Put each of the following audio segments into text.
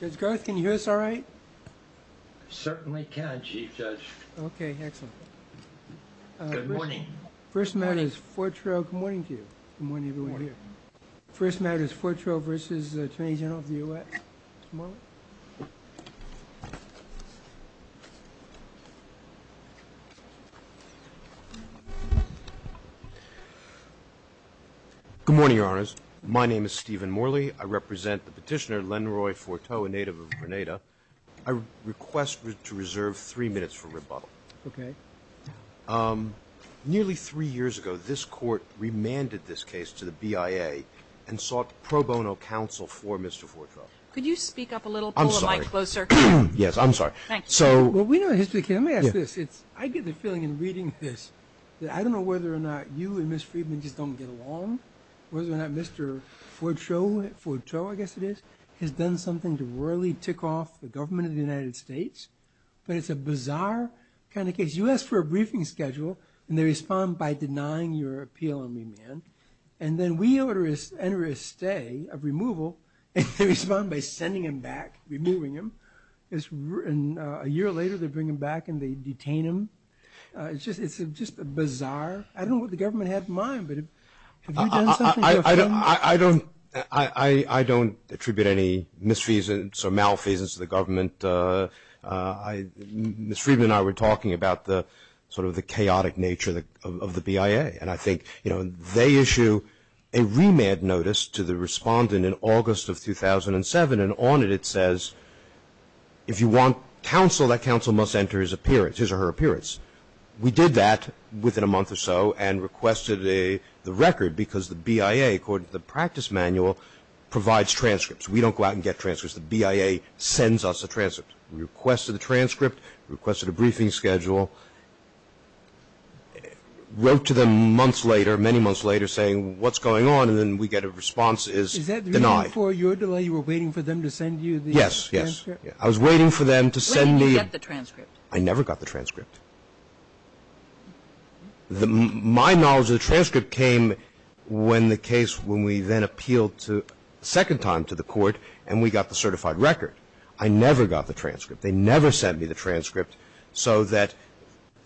Judge Garth, can you hear us all right? Certainly can, Chief Judge. Okay, excellent. Good morning. First matter is Fortreau. Good morning to you. Good morning, everyone here. First matter is Fortreau v. Attorney General of the U.S. Mr. Morley. Good morning, Your Honors. My name is Stephen Morley. I represent the petitioner, Lenroy Forteau, a native of Grenada. I request to reserve three minutes for rebuttal. Okay. Nearly three years ago, this Court remanded this case to the BIA and sought pro bono counsel for Mr. Forteau. Could you speak up a little? I'm sorry. Pull the mic closer. Yes, I'm sorry. Well, we know the history of the case. Let me ask this. I get the feeling in reading this that I don't know whether or not you and Ms. Friedman just don't get along, whether or not Mr. Fortreau, I guess it is, has done something to really tick off the government of the United States. But it's a bizarre kind of case. You ask for a briefing schedule, and they respond by denying your appeal on remand. And then we enter a stay of removal, and they respond by sending him back, removing him. And a year later, they bring him back, and they detain him. It's just bizarre. I don't know what the government had in mind, but have you done something? I don't attribute any misfeasance or malfeasance to the government. Ms. Friedman and I were talking about sort of the chaotic nature of the BIA. And I think they issue a remand notice to the respondent in August of 2007, and on it it says, if you want counsel, that counsel must enter his or her appearance. We did that within a month or so and requested the record because the BIA, according to the practice manual, provides transcripts. We don't go out and get transcripts. The BIA sends us a transcript. We requested a transcript, requested a briefing schedule, wrote to them months later, many months later, saying, what's going on? And then we get a response that is denied. Is that the reason for your delay? You were waiting for them to send you the transcript? Yes, yes. I was waiting for them to send me the transcript. I never got the transcript. My knowledge of the transcript came when the case, when we then appealed a second time to the court and we got the certified record. I never got the transcript. They never sent me the transcript so that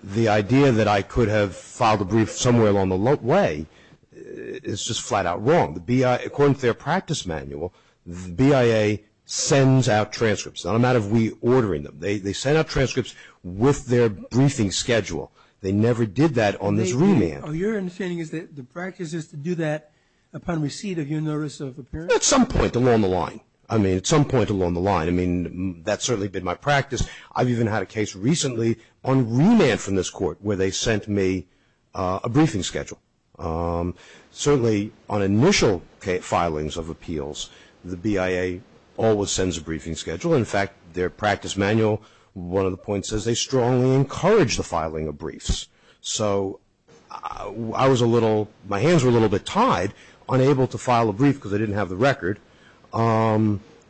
the idea that I could have filed a brief somewhere along the way is just flat out wrong. According to their practice manual, the BIA sends out transcripts. It's not a matter of we ordering them. They send out transcripts with their briefing schedule. They never did that on this remand. Your understanding is that the practice is to do that upon receipt of your notice of appearance? At some point along the line. I mean, at some point along the line. That's certainly been my practice. I've even had a case recently on remand from this court where they sent me a briefing schedule. Certainly, on initial filings of appeals, the BIA always sends a briefing schedule. In fact, their practice manual, one of the points says they strongly encourage the filing of briefs. So, I was a little, my hands were a little bit tied, unable to file a brief because I didn't have the record.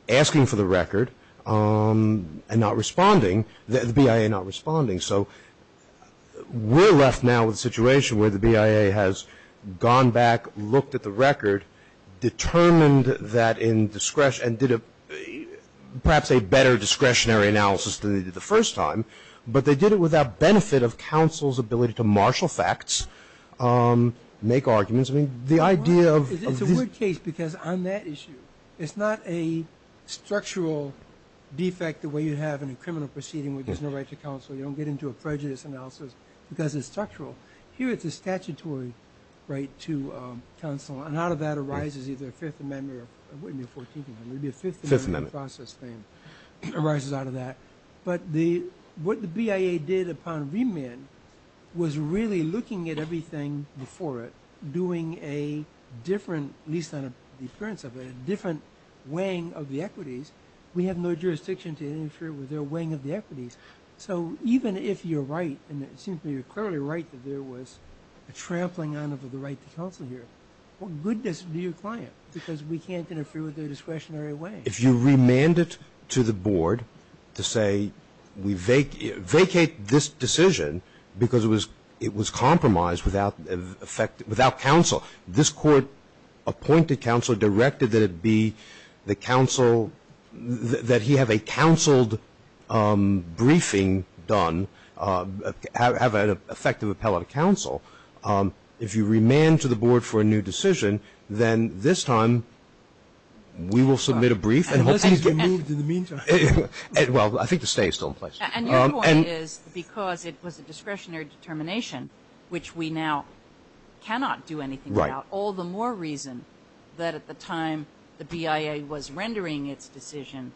Asking for the record and not responding. The BIA not responding. So, we're left now with a situation where the BIA has gone back, looked at the record, determined that in discretion and did perhaps a better discretionary analysis than they did the first time, but they did it without benefit of counsel's ability to marshal facts, make arguments. I mean, the idea of It's a weird case because on that issue it's not a structural defect the way you have in a criminal proceeding where there's no right to counsel. You don't get into a prejudice analysis because it's structural. Here it's a statutory right to counsel and out of that arises either a 5th Amendment or 14th Amendment. It would be a 5th Amendment process thing. Arises out of that. What the BIA did upon remand was really looking at everything before it doing a different at least on the appearance of it, a different weighing of the equities. We have no jurisdiction to interfere with their weighing of the equities. So, even if you're right, and it seems to me you're clearly right that there was a trampling on of the right to counsel here. What good does it do your client? Because we can't interfere with their discretionary weighing. If you remand it to the board to say vacate this decision because it was compromised without counsel. This court appointed counsel, directed that it be the counsel that he have a counseled briefing done have an effective appellate counsel. If you remand to the board for a new decision, then this time we will submit a brief. Well, I think the stay is still in place. Because it was a discretionary determination which we now cannot do anything about. All the more reason that at the time the BIA was rendering its decision,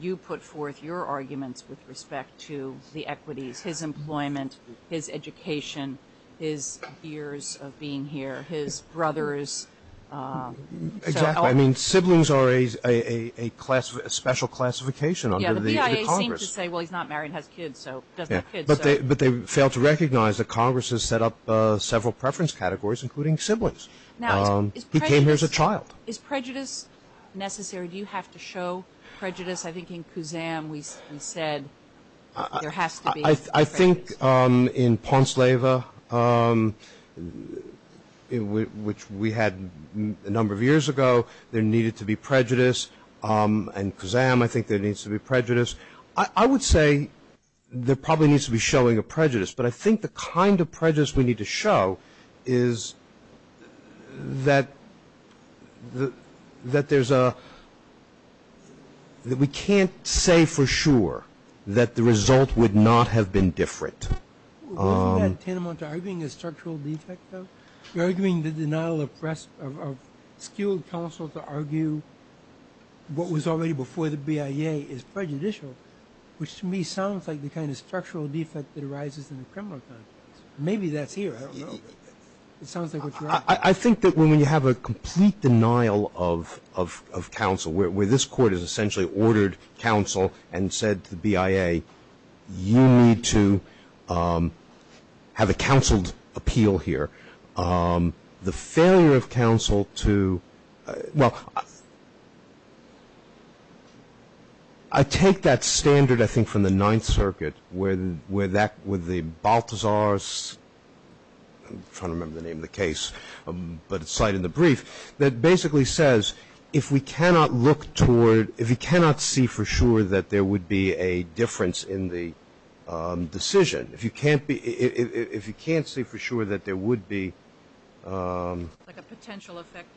you put forth your arguments with respect to the equities, his employment, his education, his years of being here, his brothers. Exactly. I mean siblings are a special classification under the Congress. The BIA seems to say he's not married and has kids. But they fail to recognize that Congress has set up several preference categories including siblings. He came here as a child. Is prejudice necessary? Do you have to show prejudice? I think in Kuzan we said there has to be prejudice. I think in Ponsleva which we had a number of years ago, there needed to be prejudice and Kuzan I think there needs to be prejudice. I would say there probably needs to be showing of prejudice. But I think the kind of prejudice we need to show is that there's a that we can't say for sure that the result would not have been different. Are you arguing a structural defect though? You're arguing the denial of skilled counsel to argue what was already before the BIA is prejudicial which to me sounds like the kind of structural defect that arises in a criminal case. Maybe that's here, I don't know. It sounds like what you're arguing. I think that when you have a complete denial of counsel, where this court has essentially ordered counsel and said to the BIA, you need to have a counseled appeal here. The failure of counsel to well I take that standard I think from the 9th Circuit where that Balthazar's I'm trying to remember the name of the case but it's cited in the brief that basically says if we cannot look toward if we cannot see for sure that there would be a difference in the decision, if you can't be if you can't see for sure that there would be like a potential effect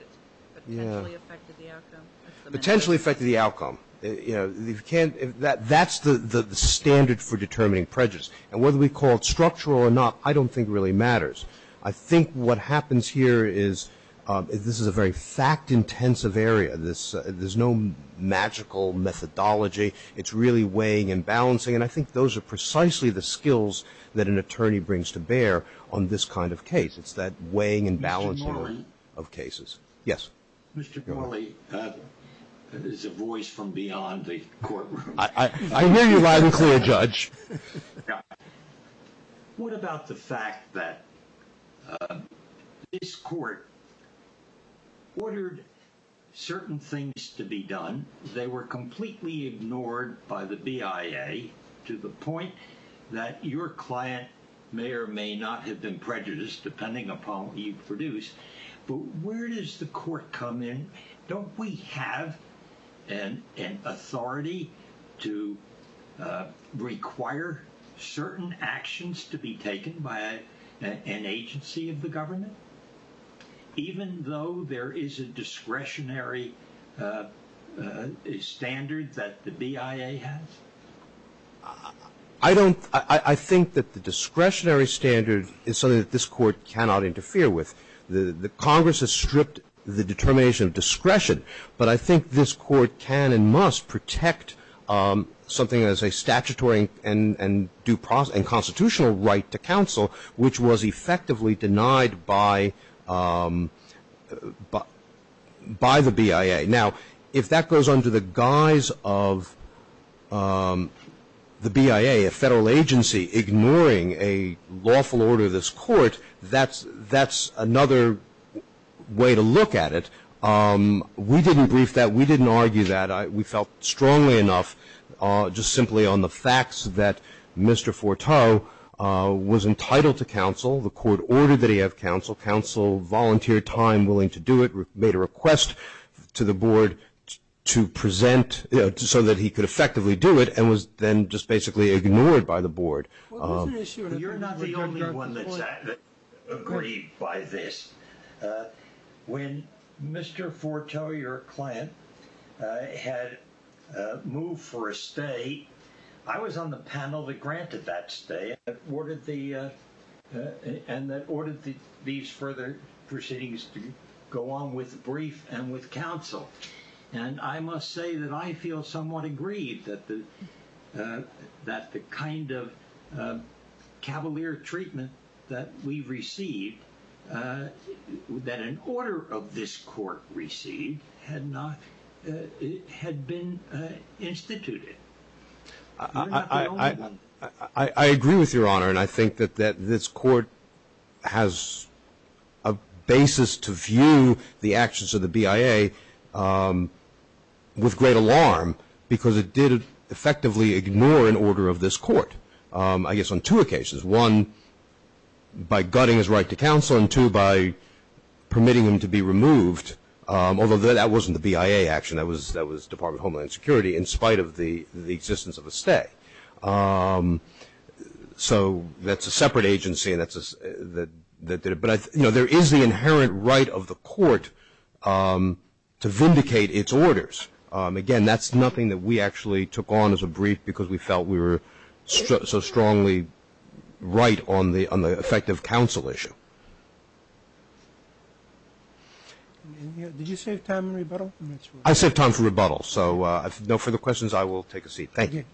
potentially effected the outcome potentially effected the outcome that's the standard for determining prejudice. Whether we call it structural or not, I don't think really matters. I think what this is a very fact-intensive area. There's no magical methodology. It's really weighing and balancing and I think those are precisely the skills that an attorney brings to bear on this kind of case. It's that weighing and balancing of cases. Yes. Mr. Morley, there's a voice from beyond the courtroom. I hear you loud and clear, Judge. What about the fact that this court ordered certain things to be done. They were completely ignored by the BIA to the point that your client may or may not have been prejudiced depending upon what you produced, but where does the court come in? Don't we have an authority to require certain actions to be taken by an agency of the government? Even though there is a discretionary standard that the BIA has? I think that the discretionary standard is something that this court cannot interfere with. The Congress has stripped the determination of discretion, but I think this court can and must protect something as a statutory and constitutional right to counsel, which was effectively denied by the BIA. Now, if that goes under the guise of the BIA, a federal agency, ignoring a lawful order of this court, that's another way to look at it. We didn't brief that. We didn't argue that. We felt strongly enough just simply on the grounds that Mr. Forteau was entitled to counsel. The court ordered that he have counsel. Counsel volunteered time, willing to do it, made a request to the board to present so that he could effectively do it, and was then just basically ignored by the board. You're not the only one that's aggrieved by this. When Mr. Forteau, your client, had moved for a stay, I was on the panel that granted that stay and that ordered these further proceedings to go on with brief and with counsel. I must say that I feel somewhat aggrieved that the kind of cavalier treatment that we received, that an order of this court received, had been instituted. You're not the only one. I agree with Your Honor, and I think that this court has a basis to view the actions of the BIA with great alarm because it did effectively ignore an order of this court. I guess on two occasions. One, by gutting his right to counsel, and two, by permitting him to be removed, although that wasn't the BIA action, that was Department of Homeland Security, in spite of the existence of a stay. So, that's a separate agency that did it, but there is the inherent right of the court to vindicate its orders. Again, that's nothing that we actually took on as a brief because we felt we were so strongly right on the effect of counsel issue. Did you save time for rebuttal? I saved time for rebuttal, so if no further questions, I will take a seat. Thank you.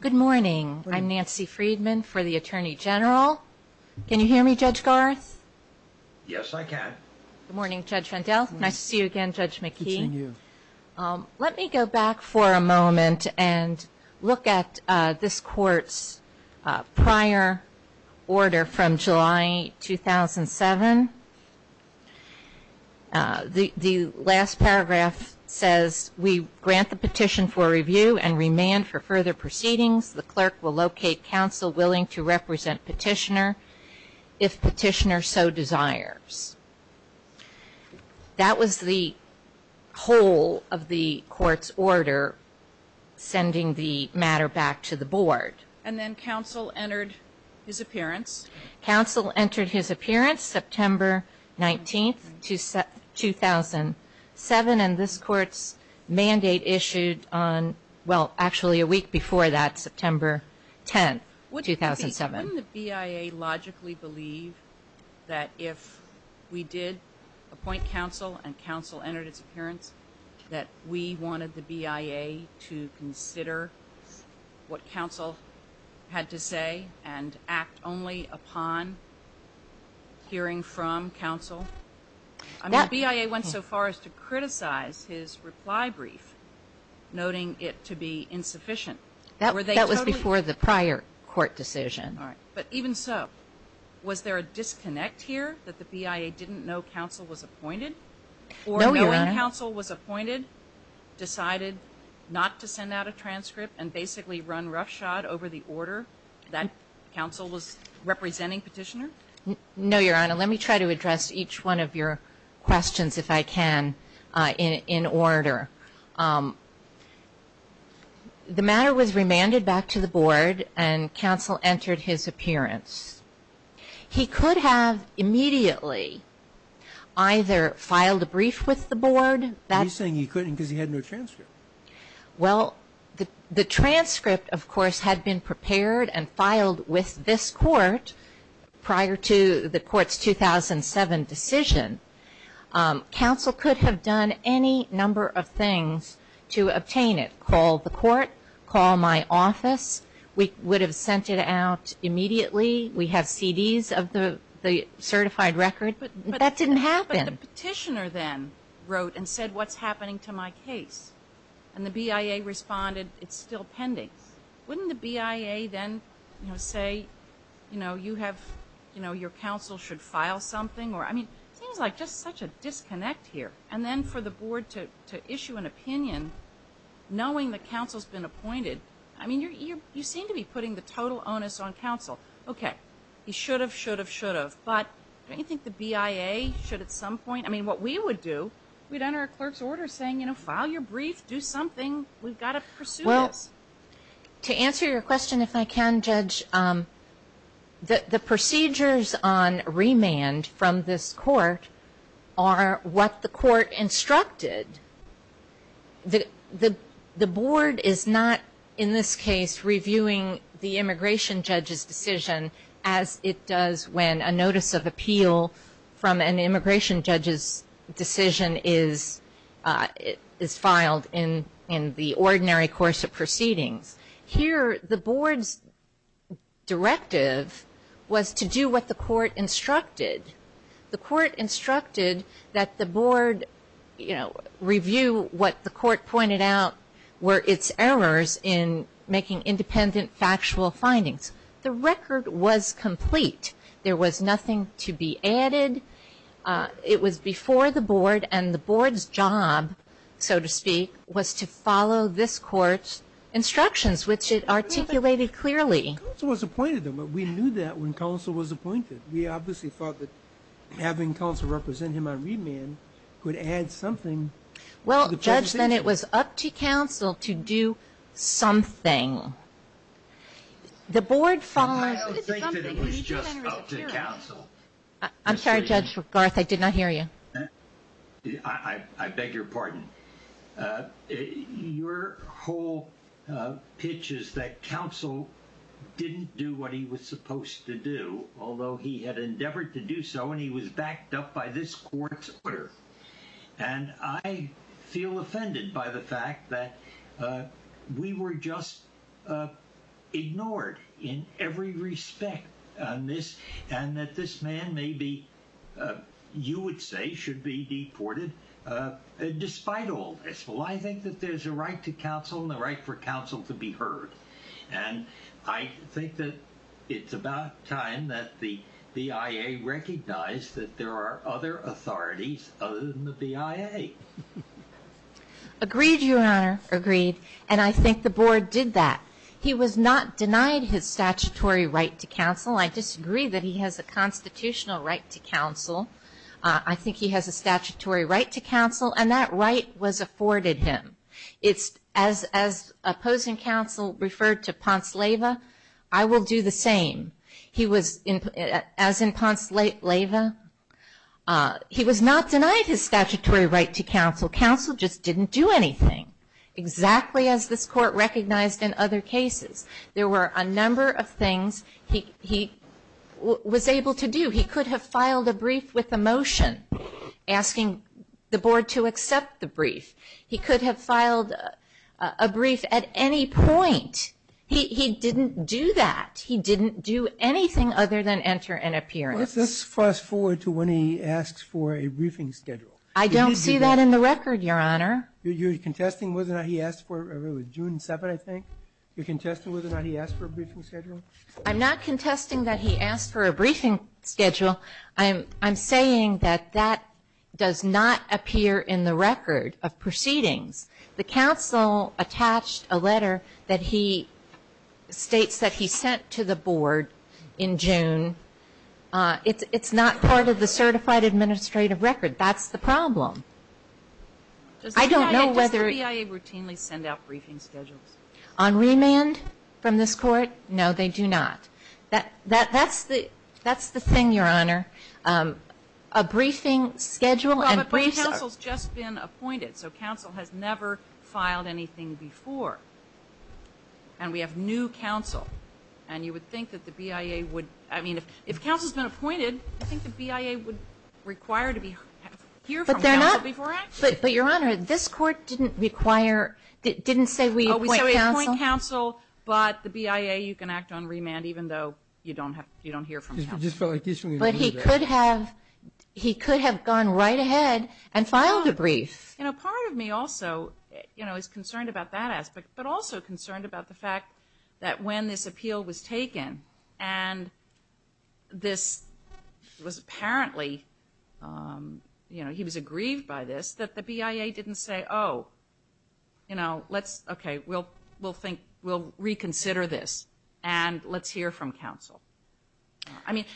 Good morning. I'm Nancy Friedman for the Attorney General. Can you hear me, Judge Garth? Yes, I can. Good morning, Judge Vandell. Nice to see you again, Judge McKee. Good seeing you. Let me go back for a moment and look at this court's prior order from July 2007. The last paragraph says we grant the petition for review and remand for further proceedings. The clerk will locate counsel willing to represent petitioner if petitioner so desires. That was the whole of the court's order for sending the matter back to the board. And then counsel entered his appearance. Counsel entered his appearance September 19, 2007, and this court's mandate issued on well, actually a week before that, September 10, 2007. Wouldn't the BIA logically believe that if we did appoint counsel and counsel entered his appearance that we wanted the BIA to consider what counsel had to say and act only upon hearing from counsel? I mean, the BIA went so far as to criticize his reply brief, noting it to be insufficient. That was before the prior court decision. But even so, was there a disconnect here that the BIA didn't know counsel was appointed? No, Your Honor. Or knowing counsel was appointed, decided not to send out a transcript and basically run roughshod over the order that counsel was representing petitioner? No, Your Honor. Let me try to address each one of your questions if I can in order. The matter was remanded back to the board and counsel entered his appearance. He could have immediately either filed a brief with the board Are you saying he couldn't because he had no transcript? Well, the transcript of course had been prepared and filed with this court prior to the court's 2007 decision. Counsel could have done any number of things to obtain it. Call the court, call my office. We would have sent it out immediately. We have CDs of the certified record. That didn't happen. But the petitioner then wrote and said, what's happening to my case? And the BIA responded, it's still pending. Wouldn't the BIA then say, you know, your counsel should file something? It seems like just such a disconnect here. And then for the board to issue an opinion, knowing that counsel's been appointed, you seem to be putting the total onus on counsel. Okay. He should have, should have, should have. But, don't you think the BIA should at some point, I mean, what we would do, we'd enter a clerk's order saying, you know, file your brief, do something. We've got to pursue this. Well, to answer your question if I can, Judge, the procedures on remand from this court are what the court instructed. The board is not, in this case, reviewing the immigration judge's decision as it does when a notice of appeal from an immigration judge's decision is filed in the ordinary course of proceedings. Here, the board's directive was to do what the court instructed. The court instructed that the board, you know, review what the court pointed out were its errors in making independent factual findings. The record was complete. There was nothing to be added. It was before the board, and the board's job, so to speak, was to follow this court's instructions, which it articulated clearly. Counsel was appointed, though, but we knew that when counsel was appointed. We obviously thought that having counsel represent him on remand could add something. Well, Judge, then it was up to counsel to do something. The board followed... I'm sorry, Judge Garth. I did not hear you. I beg your pardon. Your whole pitch is that counsel didn't do what he was supposed to do, although he had endeavored to do so, and he was backed up by this court's order. And I feel offended by the fact that we were just ignored in every respect on this, and that this man may be, you would say, should be deported despite all this. Well, I think that there's a right to counsel and the right for counsel to be heard. And I think that it's about time that the BIA recognize that there are other authorities other than the BIA. Agreed, Your Honor. Agreed. And I think the board did that. He was not denied his statutory right to counsel. I disagree that he has a constitutional right to counsel. I think he has a statutory right to counsel, and that right was afforded him. As opposing counsel referred to Ponce Leyva, I will do the same. He was, as in Ponce Leyva, he was not denied his statutory right to counsel. Counsel just didn't do anything. Exactly as this court recognized in other cases. There were a number of things he was able to do. He could have filed a brief with a motion asking the board to accept the brief. He could have filed a brief at any point. He didn't do that. He didn't do anything other than enter and appearance. Let's fast forward to when he asks for a briefing schedule. I don't see that in the record, Your Honor. You're contesting whether or not he asked for it? It was June 7th, I think. You're contesting whether or not he asked for a briefing schedule? I'm not contesting that he asked for a briefing schedule. I'm saying that that does not appear in the record of proceedings. The counsel attached a letter that he states that he sent to the board in June. It's not part of the certified administrative record. That's the problem. I don't know whether Does the BIA routinely send out briefing schedules? On remand? From this court? No, they do not. That's the thing, Your Honor. A briefing schedule Well, but the counsel's just been appointed so counsel has never filed anything before. And we have new counsel. And you would think that the BIA would, I mean, if counsel's been appointed, I think the BIA would require to hear from counsel before action. But Your Honor, this court didn't require didn't say we appoint counsel but the BIA, you can act on remand even though you don't hear from counsel. But he could have gone right ahead and filed a brief. You know, part of me also is concerned about that aspect but also concerned about the fact that when this appeal was taken and this was apparently he was aggrieved by this, that the BIA didn't say, oh, we'll reconsider this and let's hear from counsel.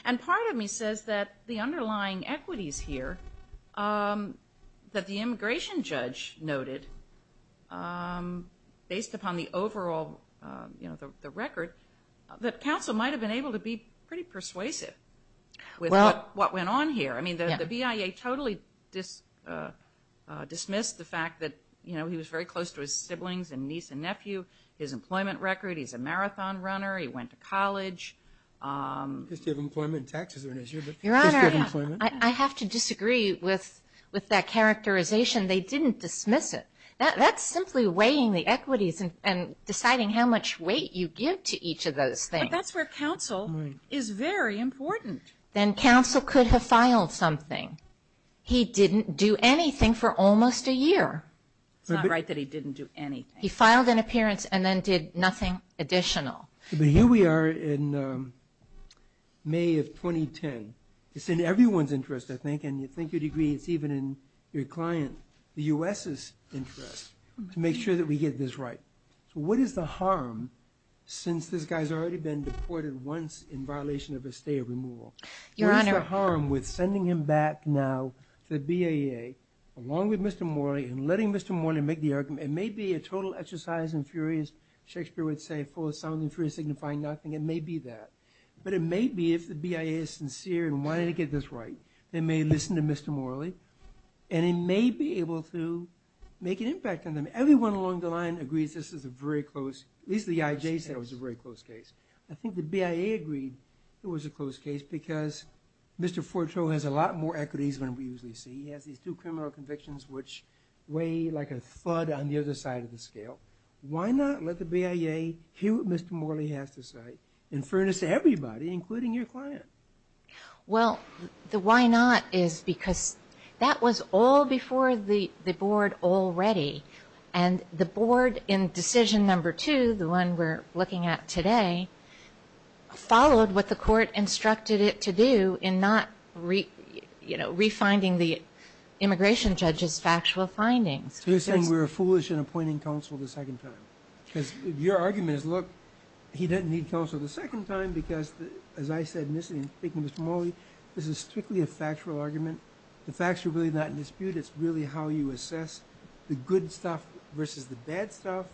And part of me says that the underlying equities here that the BIA based upon the overall record, that counsel might have been able to be pretty persuasive with what went on here. I mean, the BIA totally dismissed the fact that, you know, he was very close to his siblings and niece and nephew, his employment record, he's a marathon runner, he went to college. The history of employment taxes are an issue. Your Honor, I have to disagree with that characterization. They didn't dismiss it. That's simply weighing the equities and deciding how much weight you give to each of those things. But that's where counsel is very important. Then counsel could have filed something. He didn't do anything for almost a year. It's not right that he didn't do anything. He filed an appearance and then did But here we are in May of 2010. It's in everyone's interest, I think, and you'd think you'd agree it's even in your client, the U.S.'s, interest, to make sure that we get this right. So what is the harm since this guy's already been deported once in violation of his stay of removal? What is the harm with sending him back now to the BIA, along with Mr. Morley, and letting Mr. Morley make the argument? It may be a total exercise in furious Shakespeare would say, full of sound and fury signifying nothing. It may be that. But it may be, if the BIA is sincere in wanting to get this right, they may listen to Mr. Morley, and it may be able to make an impact on them. Everyone along the line agrees this is a very close, at least the IJ said it was a very close case. I think the BIA agreed it was a close case because Mr. Forto has a lot more equities than we usually see. He has these two criminal convictions which weigh like a thud on the other side of the scale. Why not let the BIA hear what Mr. Morley has to say and furnace everybody, including your client? Well, the why not is because that was all before the board already, and the board in decision number two, the one we're looking at today, followed what the court instructed it to do in not refinding the immigration judge's factual findings. So you're saying we were foolish in appointing counsel the second time? Because your argument is, look, he didn't need counsel the second time because as I said in speaking to Mr. Morley, this is strictly a factual argument. The facts are really not in dispute. It's really how you assess the good stuff versus the bad stuff.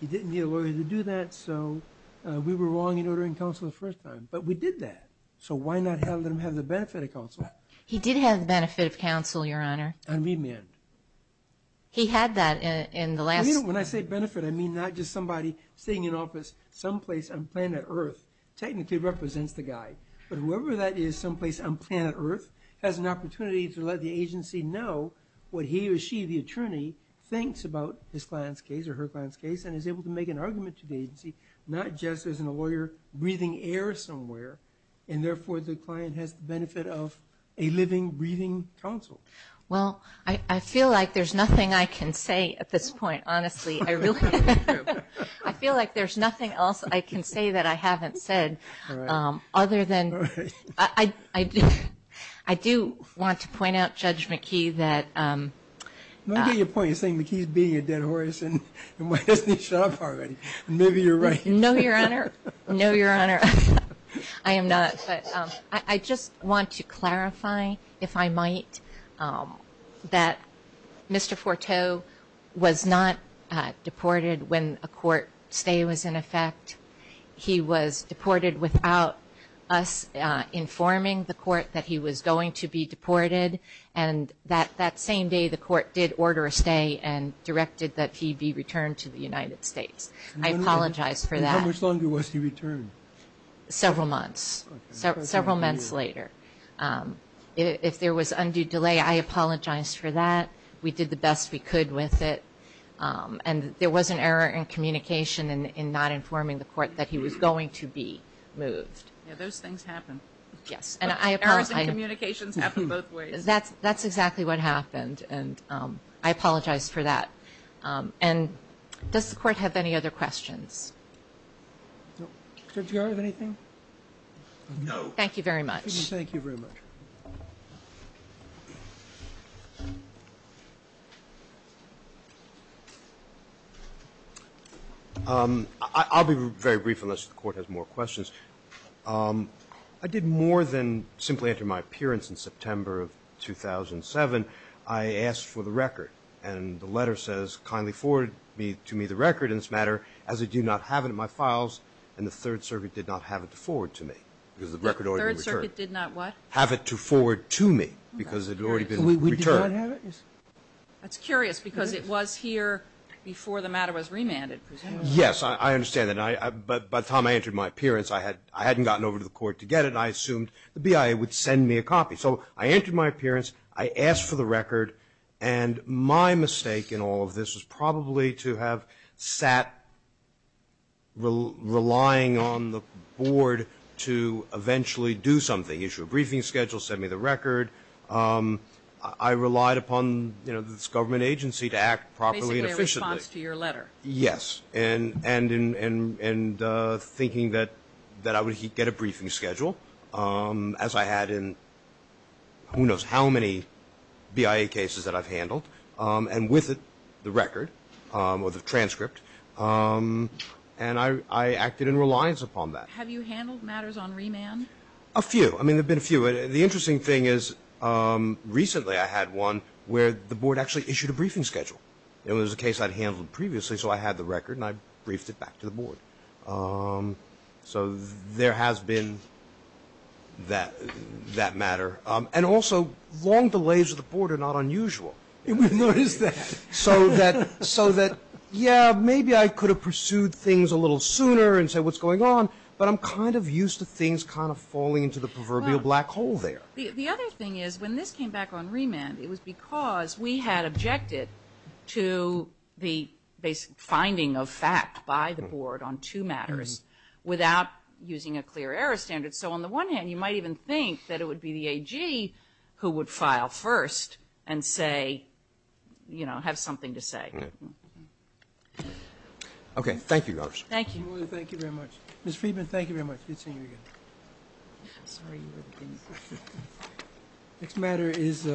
He didn't need a lawyer to do that, so we were wrong in ordering counsel the first time. But we did that. So why not let him have the benefit of counsel? He did have the benefit of counsel, Your Honor. And remand. He had that in the last... When I say benefit, I mean not just somebody sitting in office someplace on planet Earth technically represents the guy. But whoever that is someplace on planet Earth has an opportunity to let the agency know what he or she, the attorney, thinks about his client's case or her client's case and is able to make an argument to the agency not just as a lawyer breathing air somewhere, and therefore the client has the benefit of a living, breathing counsel. Well, I feel like there's nothing I can say at this point, honestly. I really... I feel like there's nothing else I can say that I haven't said other than... I do want to point out, Judge McKee, that... I don't get your point. You're saying McKee's beating a dead horse, and why doesn't he shut up already? And maybe you're right. No, Your Honor. No, Your Honor. I am not. I just want to clarify if I might that Mr. Forteau was not deported when a court stay was in effect. He was deported without us informing the court that he was going to be deported, and that same day the court did order a stay and directed that he be returned to the United States. I apologize for that. And how much longer was he returned? Several months. Several months later. If there was undue delay, I apologize for that. We did the best we could with it, and there was an error in communication in not informing the court that he was going to be moved. Yeah, those things happen. Yes. Errors in communications happen both ways. That's exactly what happened, and I apologize for that. And does the court have any other questions? No. Judge Garrard, anything? No. Thank you very much. Thank you very much. I'll be very brief unless the court has more questions. I did more than simply enter my appearance in September of 2007. I asked for the record, and the letter says, kindly forward to me the record in this matter, as I do not have it in my files, and the Third Circuit did not have it to forward to me. The Third Circuit did not what? Have it to forward to me, because it had already been returned. We did not have it? That's curious, because it was here before the matter was remanded. Yes, I understand that. By the time I entered my appearance, I hadn't gotten over to the court to get it, and I assumed the BIA would send me a copy. So I entered my appearance, I asked for the record, and my mistake in all of this was probably to have sat relying on the board to eventually do something, issue a briefing schedule, send me the record. I relied upon this government agency to act properly and efficiently. Basically a response to your letter. Yes, and thinking that I would get a briefing schedule, as I had in who knows how many BIA cases that I've handled, and with it the record, or the transcript, and I acted in reliance upon that. Have you handled matters on remand? A few. I mean, there have been a few. The interesting thing is recently I had one where the board actually issued a briefing schedule. It was a case I'd handled previously, so I had the record and I briefed it back to the board. So there has been that matter. And also, long delays of the board are not unusual. We've noticed that. So that yeah, maybe I could have pursued things a little sooner and said what's going on, but I'm kind of used to things kind of falling into the proverbial black hole there. The other thing is, when this came back on remand, it was because we had objected to the basic finding of fact by the board on two matters without using a clear error standard. So on the one hand, you might even think that it would be the AG who would file first and say, you know, have something to say. Okay. Thank you, Congresswoman. Thank you. Ms. Friedman, thank you very much. Good seeing you again. Next matter is